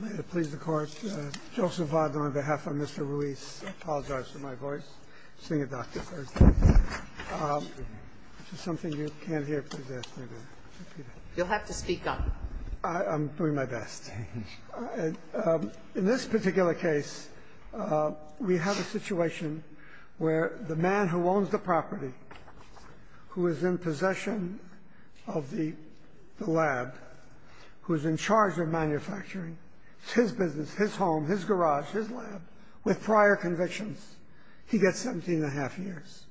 May it please the Court, Joseph Vaud on behalf of Mr. Ruiz, I apologize for my voice. I'm singing Dr. Thurston, which is something you can't hear, please ask me to repeat it. You'll have to speak up. I'm doing my best. In this particular case, we have a situation where the man who owns the property, who is in possession of the lab, who is in charge of manufacturing, it's his business, his home, his garage, his lab, with prior convictions, he gets 17 1⁄2 years.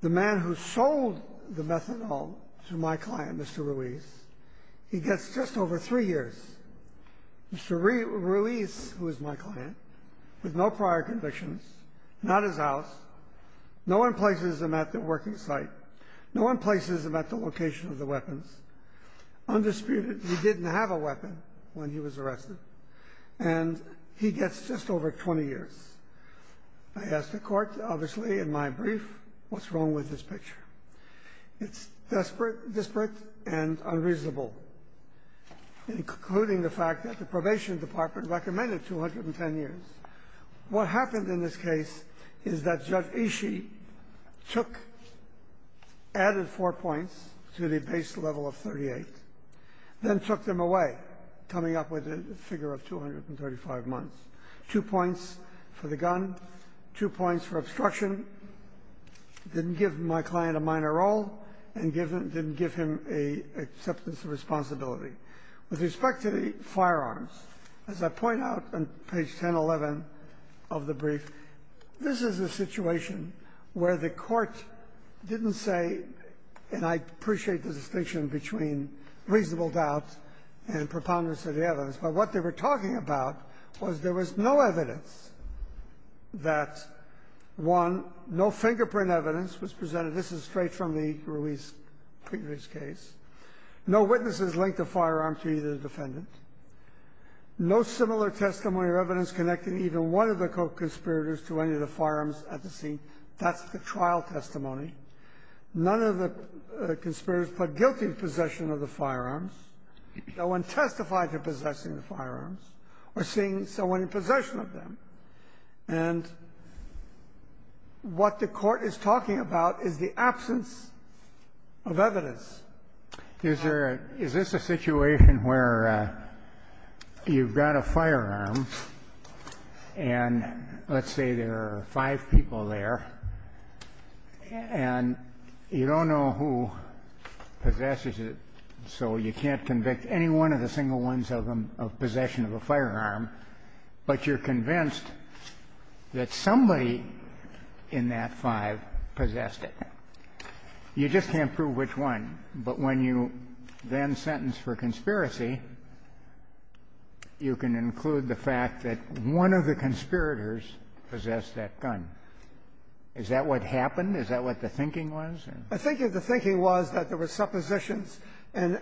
The man who sold the methadone to my client, Mr. Ruiz, he gets just over three years. Mr. Ruiz, who is my client, with no prior convictions, not his house, no one places him at the working site. No one places him at the location of the weapons. Undisputed, he didn't have a weapon when he was arrested. And he gets just over 20 years. I ask the Court, obviously, in my brief, what's wrong with this picture? It's desperate, disparate, and unreasonable. In concluding the fact that the probation department recommended 210 years, what happened in this case is that Judge Ishii took, added four points to the base level of 38, then took them away, coming up with a figure of 235 months. Two points for the gun, two points for obstruction, didn't give my client a minor role, and didn't give him an acceptance of responsibility. With respect to the firearms, as I point out on page 1011 of the brief, this is a situation where the Court didn't say, and I appreciate the distinction between reasonable doubt and preponderance of the evidence, but what they were talking about was there was no evidence that, one, no fingerprint evidence was presented. This is straight from the Ruiz case. No witnesses linked the firearm to either defendant. No similar testimony or evidence connecting even one of the co-conspirators to any of the firearms at the scene. That's the trial testimony. None of the conspirators put guilt in possession of the firearms. No one testified to possessing the firearms or seeing someone in possession of them. And what the Court is talking about is the absence of evidence. Is there a – is this a situation where you've got a firearm, and let's say there are five people there, and you don't know who possesses it, so you can't convict any one of the single ones of possession of a firearm, but you're convinced that somebody in that five possessed it. You just can't prove which one. But when you then sentence for conspiracy, you can include the fact that one of the conspirators possessed that gun. Is that what happened? Is that what the thinking was? I think the thinking was that there were suppositions, and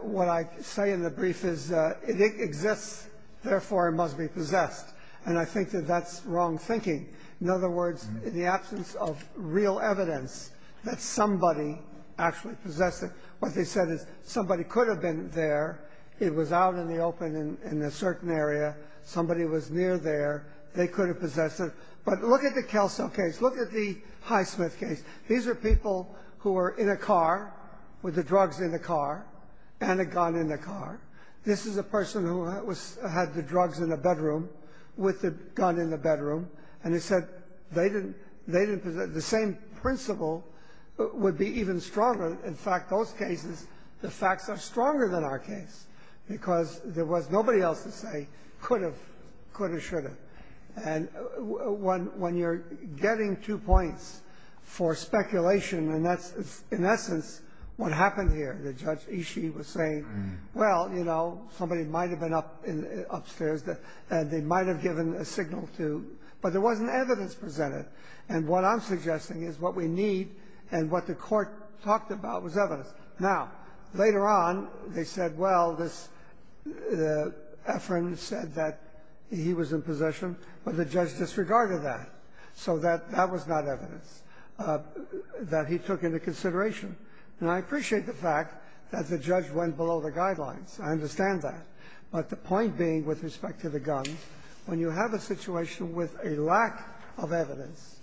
what I say in the brief is it exists, therefore it must be possessed. And I think that that's wrong thinking. In other words, in the absence of real evidence that somebody actually possessed it, what they said is somebody could have been there. It was out in the open in a certain area. Somebody was near there. They could have possessed it. But look at the Kelso case. Look at the Highsmith case. These are people who were in a car with the drugs in the car and a gun in the car. This is a person who had the drugs in the bedroom with the gun in the bedroom, and they said they didn't possess it. The same principle would be even stronger. In fact, those cases, the facts are stronger than our case because there was nobody else to say could have, could have, should have. And when you're getting two points for speculation, and that's in essence what happened here, that Judge Ishii was saying, well, you know, somebody might have been upstairs, and they might have given a signal to, but there wasn't evidence presented. And what I'm suggesting is what we need and what the court talked about was evidence. Now, later on, they said, well, this Efron said that he was in possession, but the judge disregarded that, so that that was not evidence that he took into consideration. And I appreciate the fact that the judge went below the guidelines. I understand that. But the point being with respect to the gun, when you have a situation with a lack of evidence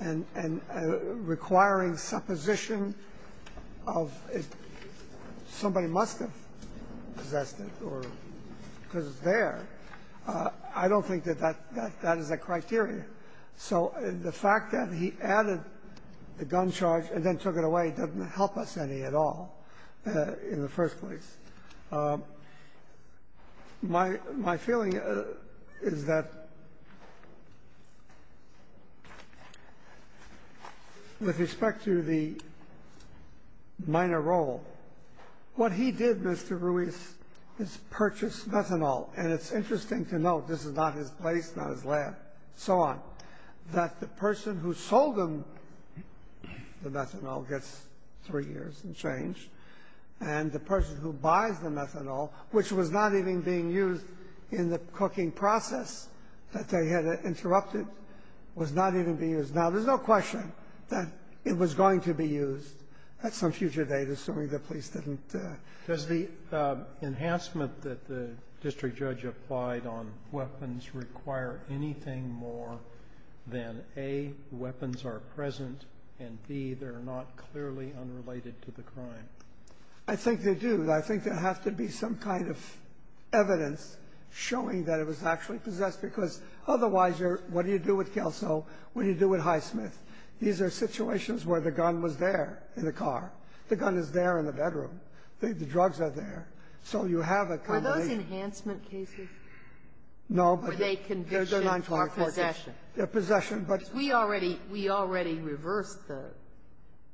and requiring supposition of somebody must have possessed it or because it's there, I don't think that that is a criteria. So the fact that he added the gun charge and then took it away doesn't help us any at all in the first place. My feeling is that with respect to the minor role, what he did, Mr. Ruiz, is purchase methanol. And it's interesting to note, this is not his place, not his lab, so on, that the person who sold him the methanol gets three years and change, and the person who buys the methanol, which was not even being used in the cooking process that they had interrupted, was not even being used. Now, there's no question that it was going to be used at some future date, assuming the police didn't. Roberts. Does the enhancement that the district judge applied on weapons require anything more than, A, weapons are present, and, B, they're not clearly unrelated to the crime? I think they do. I think there has to be some kind of evidence showing that it was actually possessed. Because otherwise, you're what do you do with Kelso? What do you do with Highsmith? These are situations where the gun was there in the car. The gun is there in the bedroom. The drugs are there. So you have a combination. Are those enhancement cases? No, but they're 924. They're possession. They're possession, but we already reversed the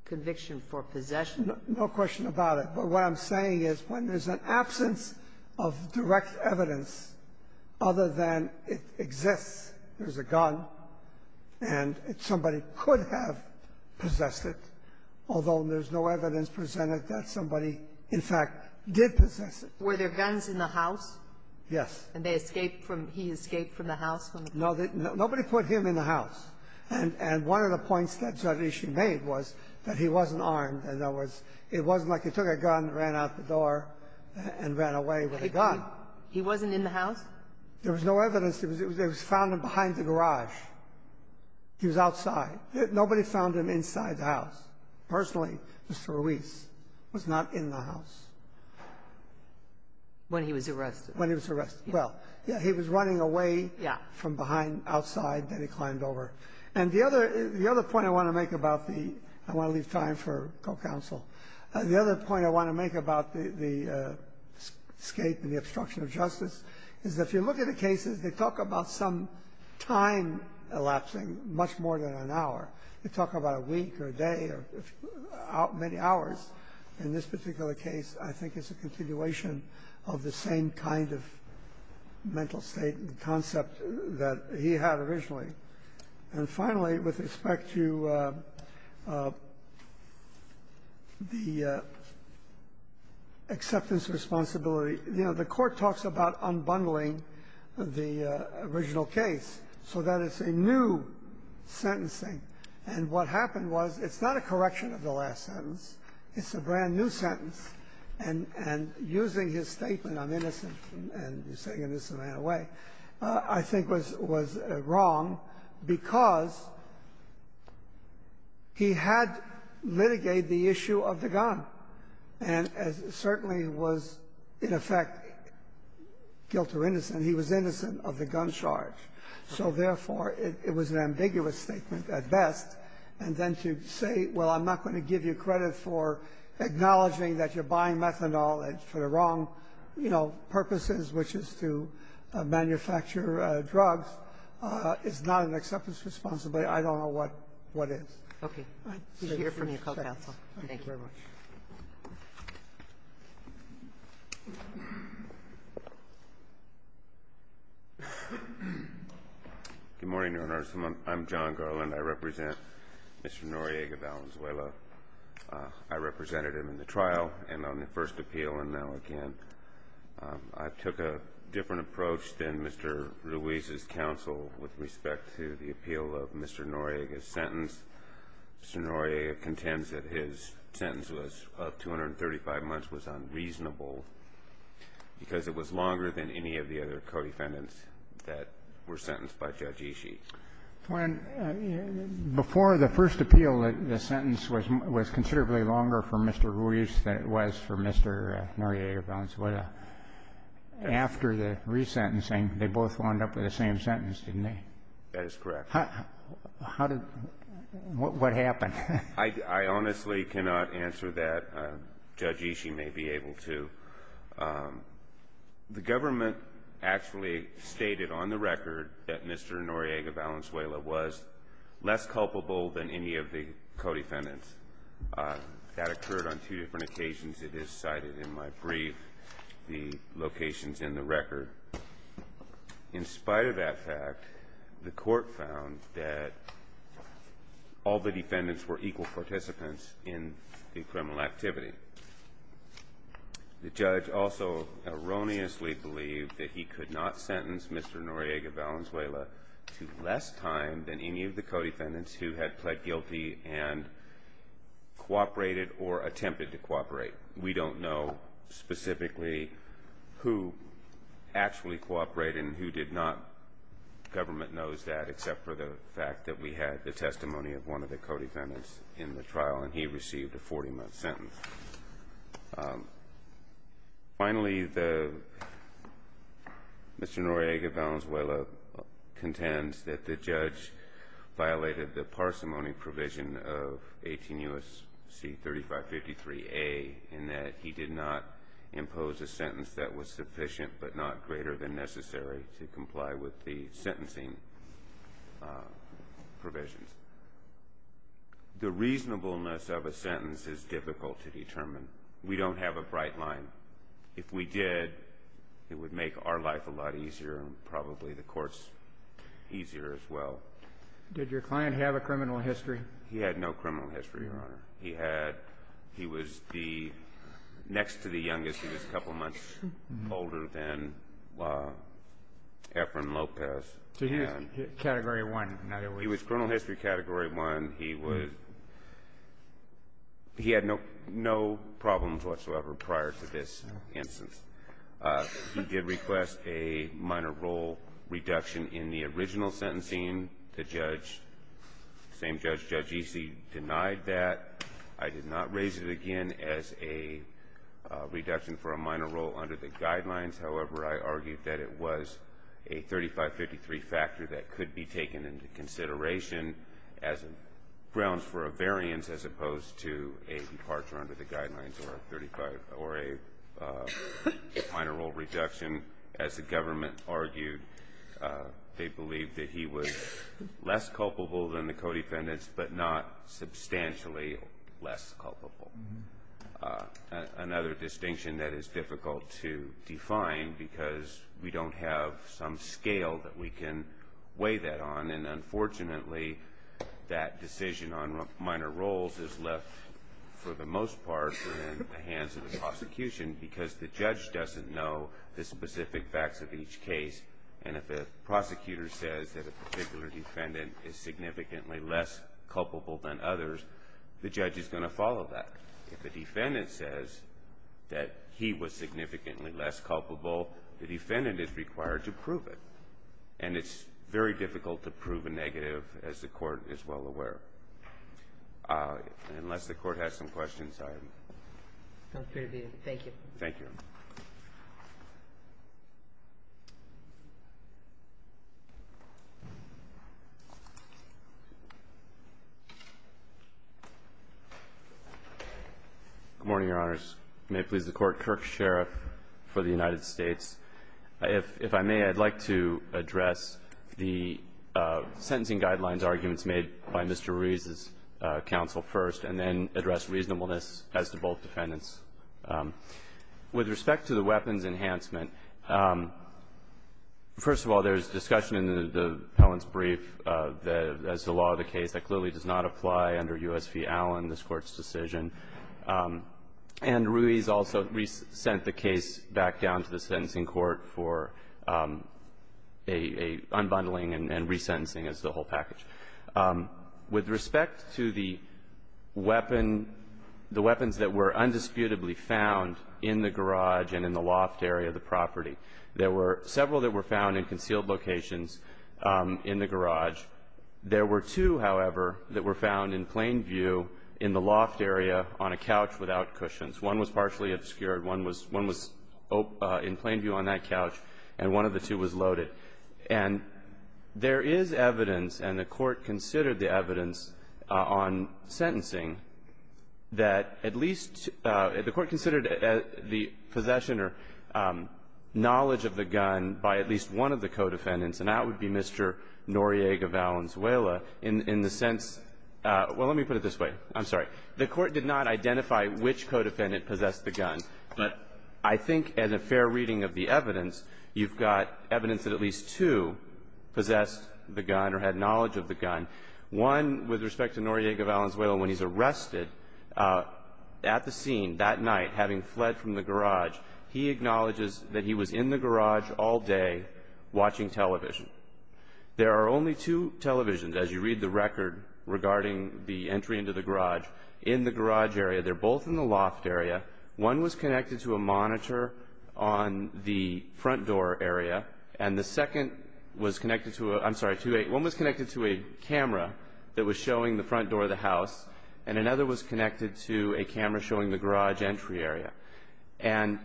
conviction for possession. No question about it. But what I'm saying is when there's an absence of direct evidence other than it exists, there's a gun, and somebody could have possessed it, although there's no evidence presented that somebody, in fact, did possess it. Were there guns in the house? Yes. And they escaped from the house? Nobody put him in the house. And one of the points that Judge Ishii made was that he wasn't armed. In other words, it wasn't like he took a gun, ran out the door, and ran away with a gun. He wasn't in the house? There was no evidence. They found him behind the garage. He was outside. Nobody found him inside the house. Personally, Mr. Ruiz was not in the house. When he was arrested? When he was arrested. Well, he was running away from behind outside. Then he climbed over. And the other point I want to make about the escape and the obstruction of justice is that if you look at the cases, they talk about some time elapsing, much more than an hour. They talk about a week or a day or many hours. In this particular case, I think it's a continuation of the same kind of mental state, the concept that he had originally. And finally, with respect to the acceptance responsibility, you know, the Court talks about unbundling the original case so that it's a new sentencing. And what happened was it's not a correction of the last sentence. It's a brand-new sentence. And using his statement, I'm innocent, and he's saying this in a manner of a way, I think was wrong because he had litigated the issue of the gun and certainly was, in effect, guilty or innocent. He was innocent of the gun charge. So, therefore, it was an ambiguous statement at best. And then to say, well, I'm not going to give you credit for acknowledging that you're buying methanol for the wrong, you know, purposes, which is to manufacture drugs, is not an acceptance responsibility. I don't know what is. Okay. We hear from you. Call counsel. Thank you. Thank you very much. Good morning, Your Honor. I'm John Garland. I represent Mr. Noriega Valenzuela. I represented him in the trial and on the first appeal, and now again. I took a different approach than Mr. Ruiz's counsel with respect to the appeal of Mr. Noriega's sentence. Mr. Noriega contends that his sentence of 235 months was unreasonable because it was longer than any of the other co-defendants that were sentenced by Judge Ishii. Before the first appeal, the sentence was considerably longer for Mr. Ruiz than it was for Mr. Noriega Valenzuela. After the resentencing, they both wound up with the same sentence, didn't they? That is correct. What happened? I honestly cannot answer that. Judge Ishii may be able to. The government actually stated on the record that Mr. Noriega Valenzuela was less culpable than any of the co-defendants. That occurred on two different occasions. It is cited in my brief, the locations in the record. In spite of that fact, the court found that all the defendants were equal participants in the criminal activity. The judge also erroneously believed that he could not sentence Mr. Noriega Valenzuela to less time than any of the co-defendants who had pled guilty and cooperated or attempted to cooperate. We don't know specifically who actually cooperated and who did not. The government knows that, except for the fact that we had the testimony of one of the co-defendants in the trial, and he received a 40-month sentence. Finally, Mr. Noriega Valenzuela contends that the judge violated the parsimony provision of 18 U.S.C. 3553A in that he did not impose a sentence that was sufficient but not greater than necessary to comply with the sentencing provisions. The reasonableness of a sentence is difficult to determine. We don't have a bright line. If we did, it would make our life a lot easier and probably the court's easier as well. Did your client have a criminal history? He had no criminal history, Your Honor. He had he was the next to the youngest. He was a couple months older than Efren Lopez. So he was Category 1. He was criminal history Category 1. He had no problems whatsoever prior to this instance. He did request a minor role reduction in the original sentencing. The same judge, Judge Easey, denied that. I did not raise it again as a reduction for a minor role under the guidelines. However, I argued that it was a 3553 factor that could be taken into consideration as grounds for a variance as opposed to a departure under the guidelines or a minor role reduction. As the government argued, they believed that he was less culpable than the co-defendants but not substantially less culpable. Another distinction that is difficult to define because we don't have some scale that we can weigh that on, and unfortunately that decision on minor roles is left, for the most part, in the hands of the prosecution because the judge doesn't know the specific facts of each case, and if a prosecutor says that a particular defendant is significantly less culpable than others, the judge is going to follow that. If the defendant says that he was significantly less culpable, the defendant is required to prove it, and it's very difficult to prove a negative, as the Court is well aware. Unless the Court has some questions, I'm free to be. Thank you. Thank you. Good morning, Your Honors. May it please the Court. Kirk Sherriff for the United States. If I may, I'd like to address the sentencing guidelines arguments made by Mr. Ruiz's counsel first and then address reasonableness as to both defendants. With respect to the weapons enhancement, first of all, there's discussion in the appellant's brief that as the law of the case that clearly does not apply under U.S. v. Allen, this Court's decision, and Ruiz also sent the case back down to the sentencing court for a unbundling and resentencing as the whole package. With respect to the weapon, the weapons that were undisputably found in the garage and in the loft area of the property, there were several that were found in concealed locations in the garage. There were two, however, that were found in plain view in the loft area on a couch without cushions. One was partially obscured. One was in plain view on that couch, and one of the two was loaded. And there is evidence, and the Court considered the evidence on sentencing, that at least the Court considered the possession or knowledge of the gun by at least one of the co-defendants, and that would be Mr. Noriega Valenzuela, in the sense – well, let me put it this way. I'm sorry. The Court did not identify which co-defendant possessed the gun, but I think as a fair reading of the evidence, you've got evidence that at least two possessed the gun or had knowledge of the gun. One, with respect to Noriega Valenzuela, when he's arrested at the scene that night, having fled from the garage, he acknowledges that he was in the garage all day watching television. There are only two televisions, as you read the record regarding the entry into the garage, in the garage area. They're both in the loft area. One was connected to a monitor on the front door area, and the second was connected to a – I'm sorry, one was connected to a camera that was showing the front door of the house, and another was connected to a camera showing the garage entry area. And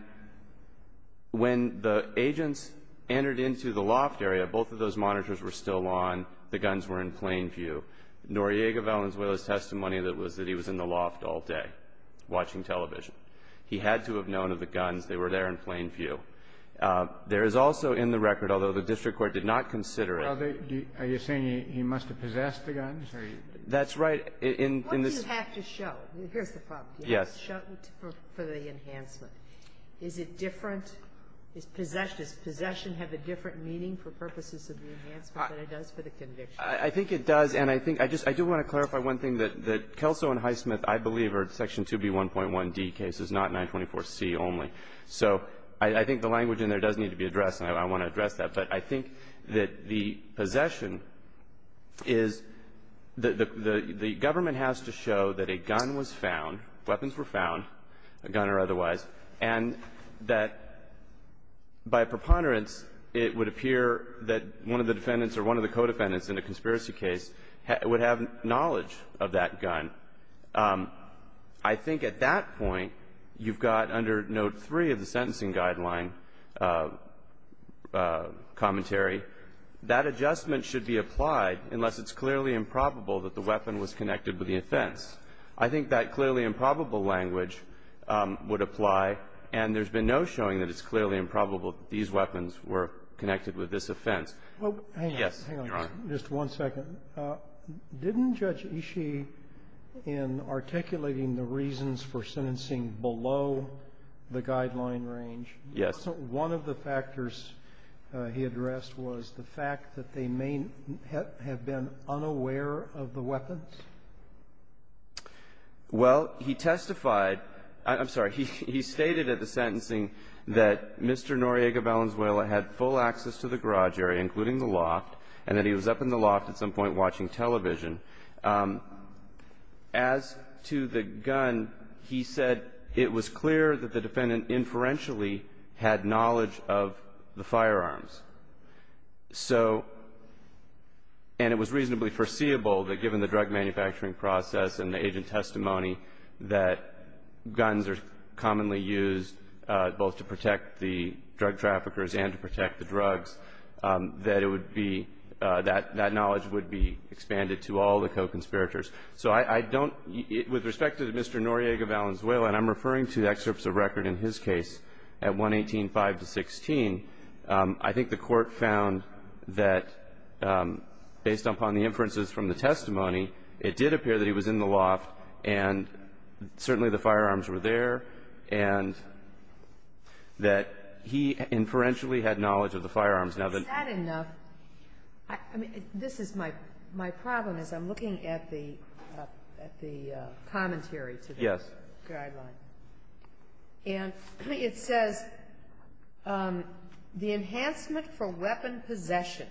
when the agents entered into the loft area, both of those monitors were still on. The guns were in plain view. Noriega Valenzuela's testimony was that he was in the loft all day watching television. He had to have known of the guns. They were there in plain view. There is also in the record, although the district court did not consider it – Are you saying he must have possessed the guns? That's right. What do you have to show? Here's the problem. You have to show for the enhancement. Is it different – does possession have a different meaning for purposes of the enhancement than it does for the conviction? I think it does. And I think – I just – I do want to clarify one thing, that Kelso and Highsmith, I believe, are Section 2B1.1d cases, not 924C only. So I think the language in there does need to be addressed, and I want to address that. But I think that the possession is – the government has to show that a gun was found, weapons were found, a gun or otherwise, and that by preponderance, it would appear that one of the defendants or one of the co-defendants in a conspiracy case would have knowledge of that gun. I think at that point, you've got under Note 3 of the Sentencing Guideline commentary, that adjustment should be applied unless it's clearly improbable that the weapon was connected with the offense. I think that clearly improbable language would apply, and there's been no showing that it's clearly improbable that these weapons were connected with this offense. Yes, Your Honor. Just one second. Didn't Judge Ishii, in articulating the reasons for sentencing below the guideline range, one of the factors he addressed was the fact that they may have been unaware of the weapons? Well, he testified – I'm sorry. He stated at the sentencing that Mr. Noriega Valenzuela had full access to the garage area, including the loft, and that he was up in the loft at some point watching television. As to the gun, he said it was clear that the defendant inferentially had knowledge of the firearms. So – and it was reasonably foreseeable that given the drug manufacturing process and the agent testimony that guns are commonly used both to protect the drug traffickers and to protect the drugs, that it would be – that knowledge would be expanded to all the co-conspirators. So I don't – with respect to Mr. Noriega Valenzuela, and I'm referring to excerpts of record in his case at 118-5-16, I think the Court found that based upon the inferences from the testimony, it did appear that he was in the loft and certainly the firearms were there, and that he inferentially had knowledge of the firearms. Now, the – Is that enough? I mean, this is my – my problem is I'm looking at the commentary to this guideline. Yes. And it says, the enhancement for weapon possession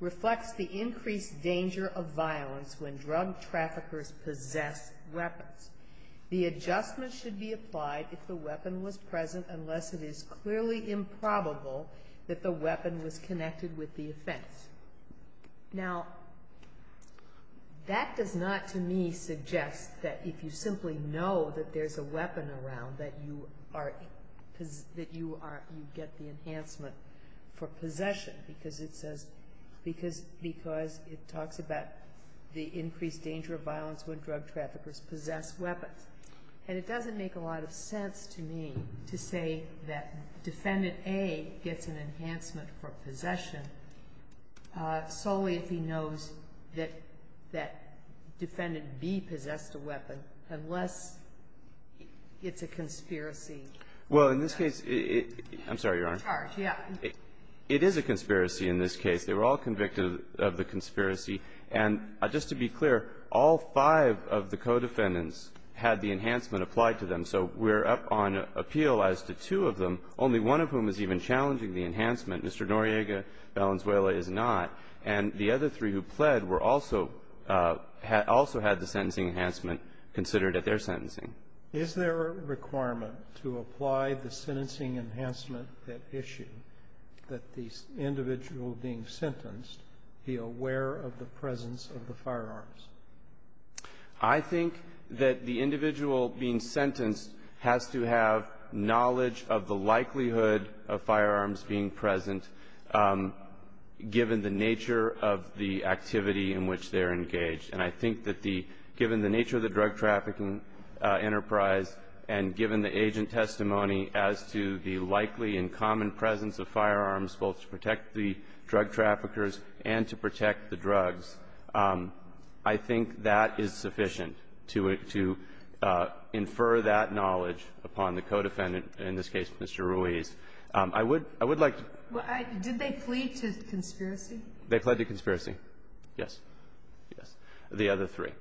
reflects the increased danger of violence when drug traffickers possess weapons. The adjustment should be applied if the weapon was present unless it is clearly improbable that the weapon was connected with the offense. Now, that does not to me suggest that if you simply know that there's a weapon around that you are – that you are – you get the enhancement for possession because it says – because it talks about the increased danger of violence when drug traffickers possess weapons. And it doesn't make a lot of sense to me to say that Defendant A gets an enhancement for possession solely if he knows that – that Defendant B possessed a weapon, unless it's a conspiracy. Well, in this case, it – I'm sorry, Your Honor. It's a charge, yes. It is a conspiracy in this case. They were all convicted of the conspiracy. And just to be clear, all five of the co-defendants had the enhancement applied to them. So we're up on appeal as to two of them, only one of whom is even challenging the enhancement. Mr. Noriega Valenzuela is not. And the other three who pled were also – also had the sentencing enhancement considered at their sentencing. Is there a requirement to apply the sentencing enhancement at issue that the individual being sentenced be aware of the presence of the firearms? I think that the individual being sentenced has to have knowledge of the likelihood of firearms being present, given the nature of the activity in which they're engaged. And I think that the – given the nature of the drug trafficking enterprise and given the agent testimony as to the likely and common presence of firearms, both to protect the drug traffickers and to protect the drugs, I think that is sufficient to infer that knowledge upon the co-defendant, in this case Mr. Ruiz. I would like to – Did they plead to conspiracy? They pled to conspiracy, yes. Yes. The other three.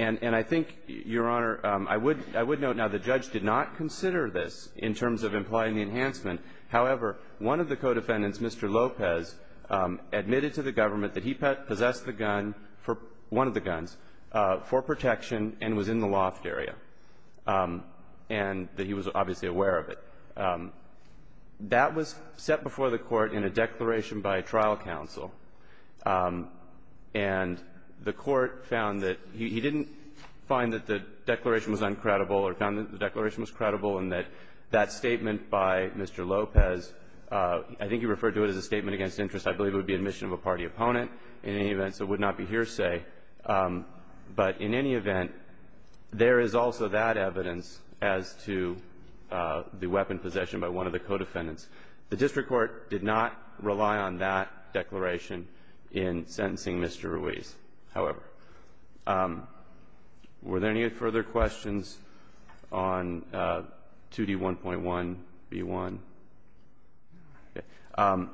And I think, Your Honor, I would note now the judge did not consider this in terms of applying the enhancement. However, one of the co-defendants, Mr. Lopez, admitted to the government that he possessed the gun for – one of the guns for protection and was in the loft area and that he was obviously aware of it. That was set before the Court in a declaration by trial counsel. And the Court found that – he didn't find that the declaration was uncredible or found that the declaration was credible and that that statement by Mr. Lopez – I think he referred to it as a statement against interest. I believe it would be admission of a party opponent in any event, so it would not be hearsay. But in any event, there is also that evidence as to the weapon possession by one of the co-defendants. The district court did not rely on that declaration in sentencing Mr. Ruiz, however. Were there any further questions on 2D1.1b1? Okay.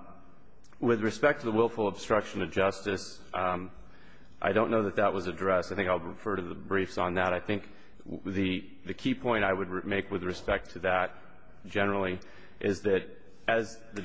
With respect to the willful obstruction of justice, I don't know that that was addressed. I think I'll refer to the briefs on that. I think the key point I would make with respect to that generally is that as the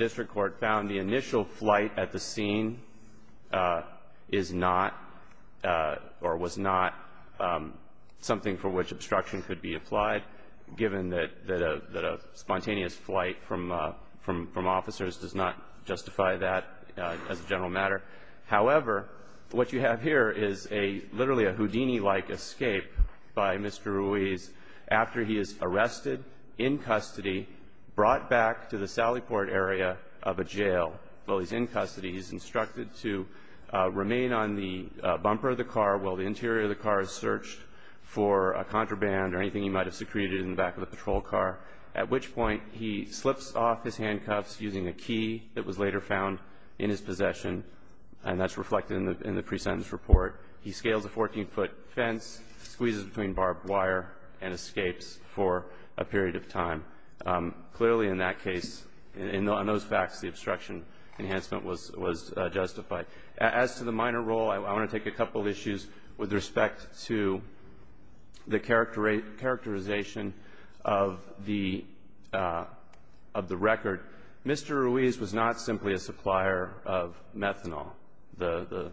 matter. However, what you have here is literally a Houdini-like escape by Mr. Ruiz after he is arrested, in custody, brought back to the Sallyport area of a jail. While he's in custody, he's instructed to remain on the bumper of the car and remain on the bumper of the car while the interior of the car is searched for a contraband or anything he might have secreted in the back of the patrol car, at which point he slips off his handcuffs using a key that was later found in his possession. And that's reflected in the pre-sentence report. He scales a 14-foot fence, squeezes between barbed wire, and escapes for a period of time. Clearly in that case, in those facts, the obstruction enhancement was justified. As to the minor role, I want to take a couple issues with respect to the characterization of the record. Mr. Ruiz was not simply a supplier of methanol, the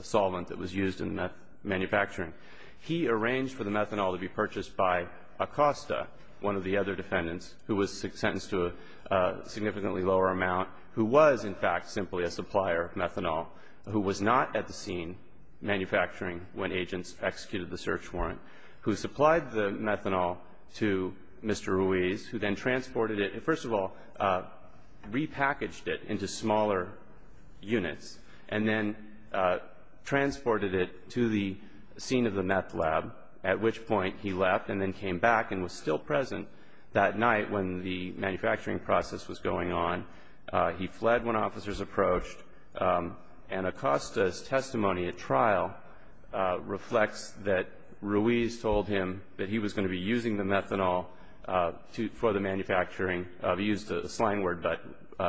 solvent that was used in manufacturing. He arranged for the methanol to be purchased by Acosta, one of the other defendants, who was sentenced to a significantly lower amount, who was, in fact, simply a supplier of methanol, who was not at the scene manufacturing when agents executed the search warrant, who supplied the methanol to Mr. Ruiz, who then transported it. First of all, repackaged it into smaller units and then transported it to the scene of the meth lab, at which point he left and then came back and was still present that night when the manufacturing process was going on. He fled when officers approached, and Acosta's testimony at trial reflects that Ruiz told him that he was going to be using the methanol for the manufacturing of, he used a slang word,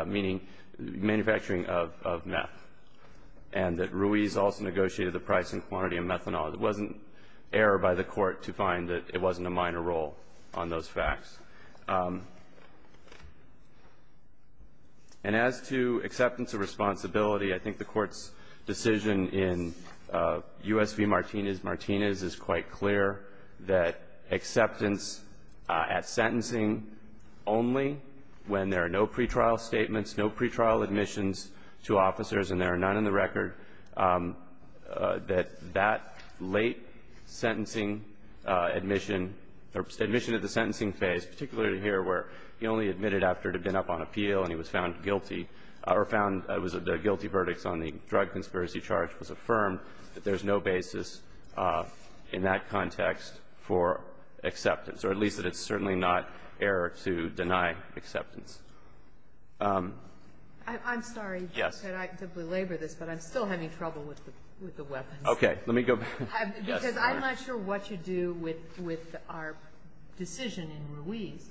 meaning manufacturing of meth, and that Ruiz also negotiated the price and quantity of methanol. It wasn't error by the Court to find that it wasn't a minor role on those facts. And as to acceptance of responsibility, I think the Court's decision in U.S. v. Martinez-Martinez is quite clear, that acceptance at sentencing only when there are no pretrial statements, no pretrial admissions to officers and there are none in the record, that that late sentencing admission, or admission at the sentencing phase, particularly here where he only admitted after it had been up on appeal and he was found guilty, or found the guilty verdicts on the drug conspiracy charge was affirmed, that there's no basis in that context for acceptance, or at least that it's certainly not error to deny acceptance. I'm sorry. Yes. Could I simply labor this? But I'm still having trouble with the weapons. Okay. Let me go back. Because I'm not sure what you do with our decision in Ruiz,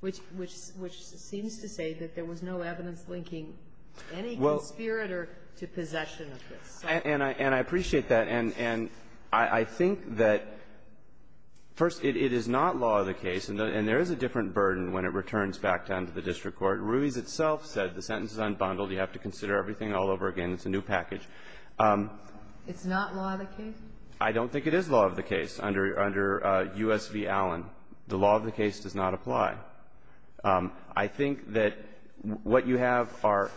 which seems to say that there was no evidence linking any conspirator to possession of this. And I appreciate that. And I think that, first, it is not law of the case, and there is a different burden when it returns back down to the district court. Ruiz itself said the sentence is unbundled. You have to consider everything all over again. It's a new package. It's not law of the case? I don't think it is law of the case under U.S. v. Allen. The law of the case does not apply. I think that what you have are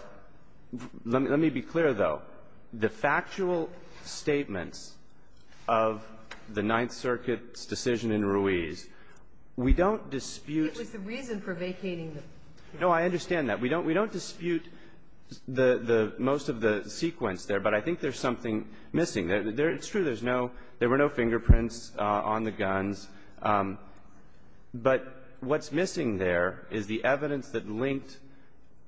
– let me be clear, though. The factual statements of the Ninth Circuit's decision in Ruiz, we don't dispute It was the reason for vacating them. No, I understand that. We don't dispute most of the sequence there, but I think there's something missing. It's true. There's no – there were no fingerprints on the guns. But what's missing there is the evidence that linked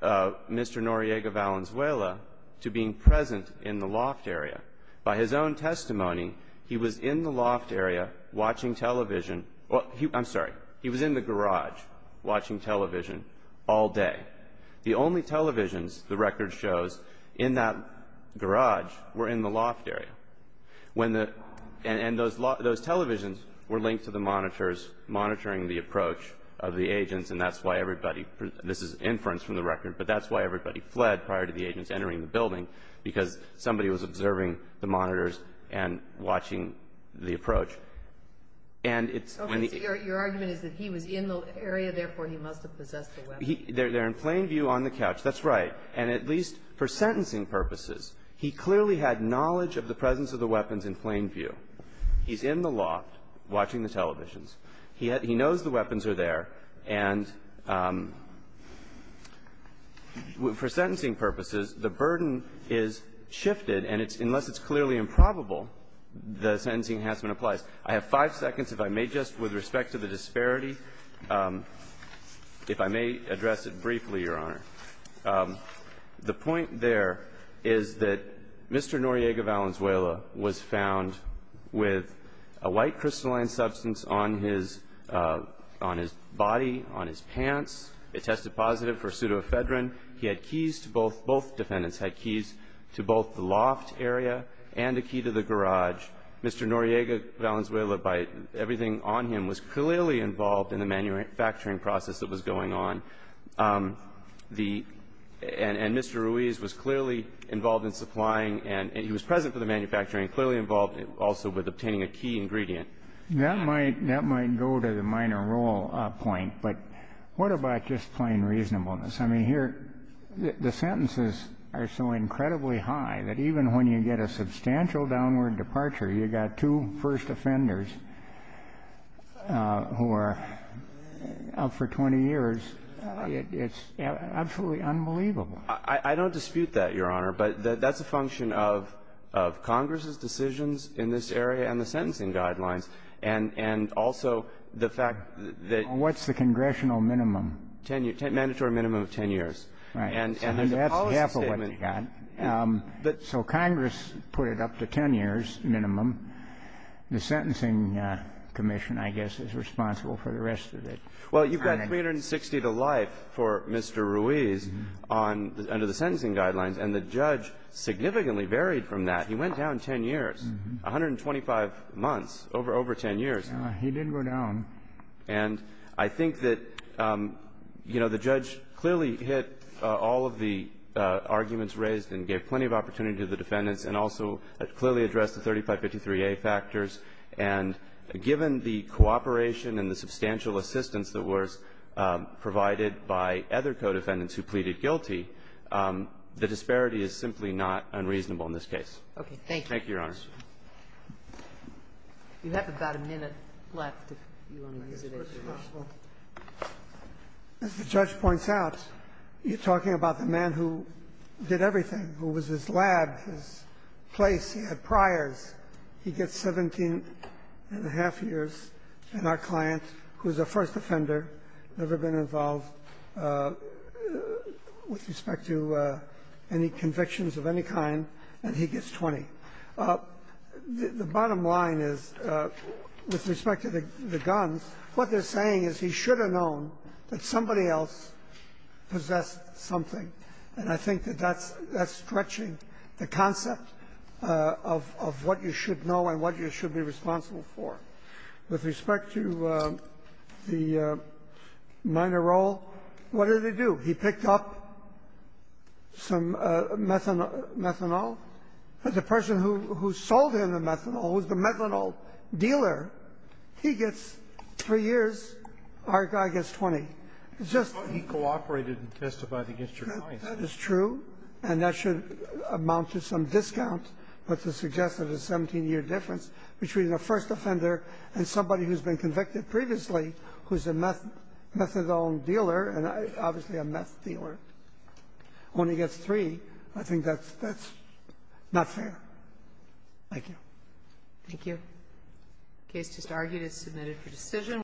Mr. Noriega Valenzuela to being present in the loft area. By his own testimony, he was in the loft area watching television – I'm sorry. He was in the garage watching television all day. The only televisions the record shows in that garage were in the loft area. When the – and those televisions were linked to the monitors monitoring the approach of the agents, and that's why everybody – this is inference from the record, but that's why everybody fled prior to the agents entering the building, because somebody was observing the monitors and watching the approach. And it's when the – Okay. So your argument is that he was in the area, therefore he must have possessed the weapons. They're in plain view on the couch. That's right. And at least for sentencing purposes, he clearly had knowledge of the presence of the weapons in plain view. He's in the loft watching the televisions. He knows the weapons are there. And for sentencing purposes, the burden is shifted, and it's – unless it's clearly improbable, the sentencing enhancement applies. I have five seconds, if I may, just with respect to the disparity, if I may address it briefly, Your Honor. The point there is that Mr. Noriega Valenzuela was found with a white crystalline substance on his – on his body, on his pants. It tested positive for pseudoephedrine. He had keys to both – both defendants had keys to both the loft area and a key to the garage. Mr. Noriega Valenzuela, by everything on him, was clearly involved in the manufacturing process that was going on. The – and Mr. Ruiz was clearly involved in supplying and he was present for the manufacturing, clearly involved also with obtaining a key ingredient. That might – that might go to the minor role point, but what about just plain reasonableness? I mean, here, the sentences are so incredibly high that even when you get a substantial downward departure, you've got two first offenders who are up for 20 years. It's absolutely unbelievable. I don't dispute that, Your Honor, but that's a function of Congress's decisions in this area and the sentencing guidelines. And also the fact that – What's the congressional minimum? Mandatory minimum of 10 years. Right. And as a policy statement – That's half of what you got. But – So Congress put it up to 10 years minimum. The Sentencing Commission, I guess, is responsible for the rest of it. Well, you've got 360 to life for Mr. Ruiz on – under the sentencing guidelines, and the judge significantly varied from that. He went down 10 years, 125 months, over 10 years. He didn't go down. And I think that, you know, the judge clearly hit all of the arguments raised and gave plenty of opportunity to the defendants and also clearly addressed the 3553A factors. And given the cooperation and the substantial assistance that was provided by other co-defendants who pleaded guilty, the disparity is simply not unreasonable in this case. Thank you. Thank you, Your Honor. You have about a minute left if you want to revisit it. As the judge points out, you're talking about the man who did everything, who was his lab, his place, he had priors. He gets 17 and a half years, and our client, who is a first offender, never been involved with respect to any convictions of any kind, and he gets 20. The bottom line is, with respect to the guns, what they're saying is he should have known that somebody else possessed something. And I think that that's stretching the concept of what you should know and what you should be responsible for. With respect to the minor role, what did he do? He picked up some methanol. The person who sold him the methanol was the methanol dealer. He gets three years. Our guy gets 20. It's just that he cooperated and testified against your client. That is true. And that should amount to some discount, but to suggest that a 17-year difference between a first offender and somebody who's been convicted previously, who's a methadone dealer, and obviously a meth dealer, only gets three, I think that's not fair. Thank you. Thank you. The case just argued is submitted for decision.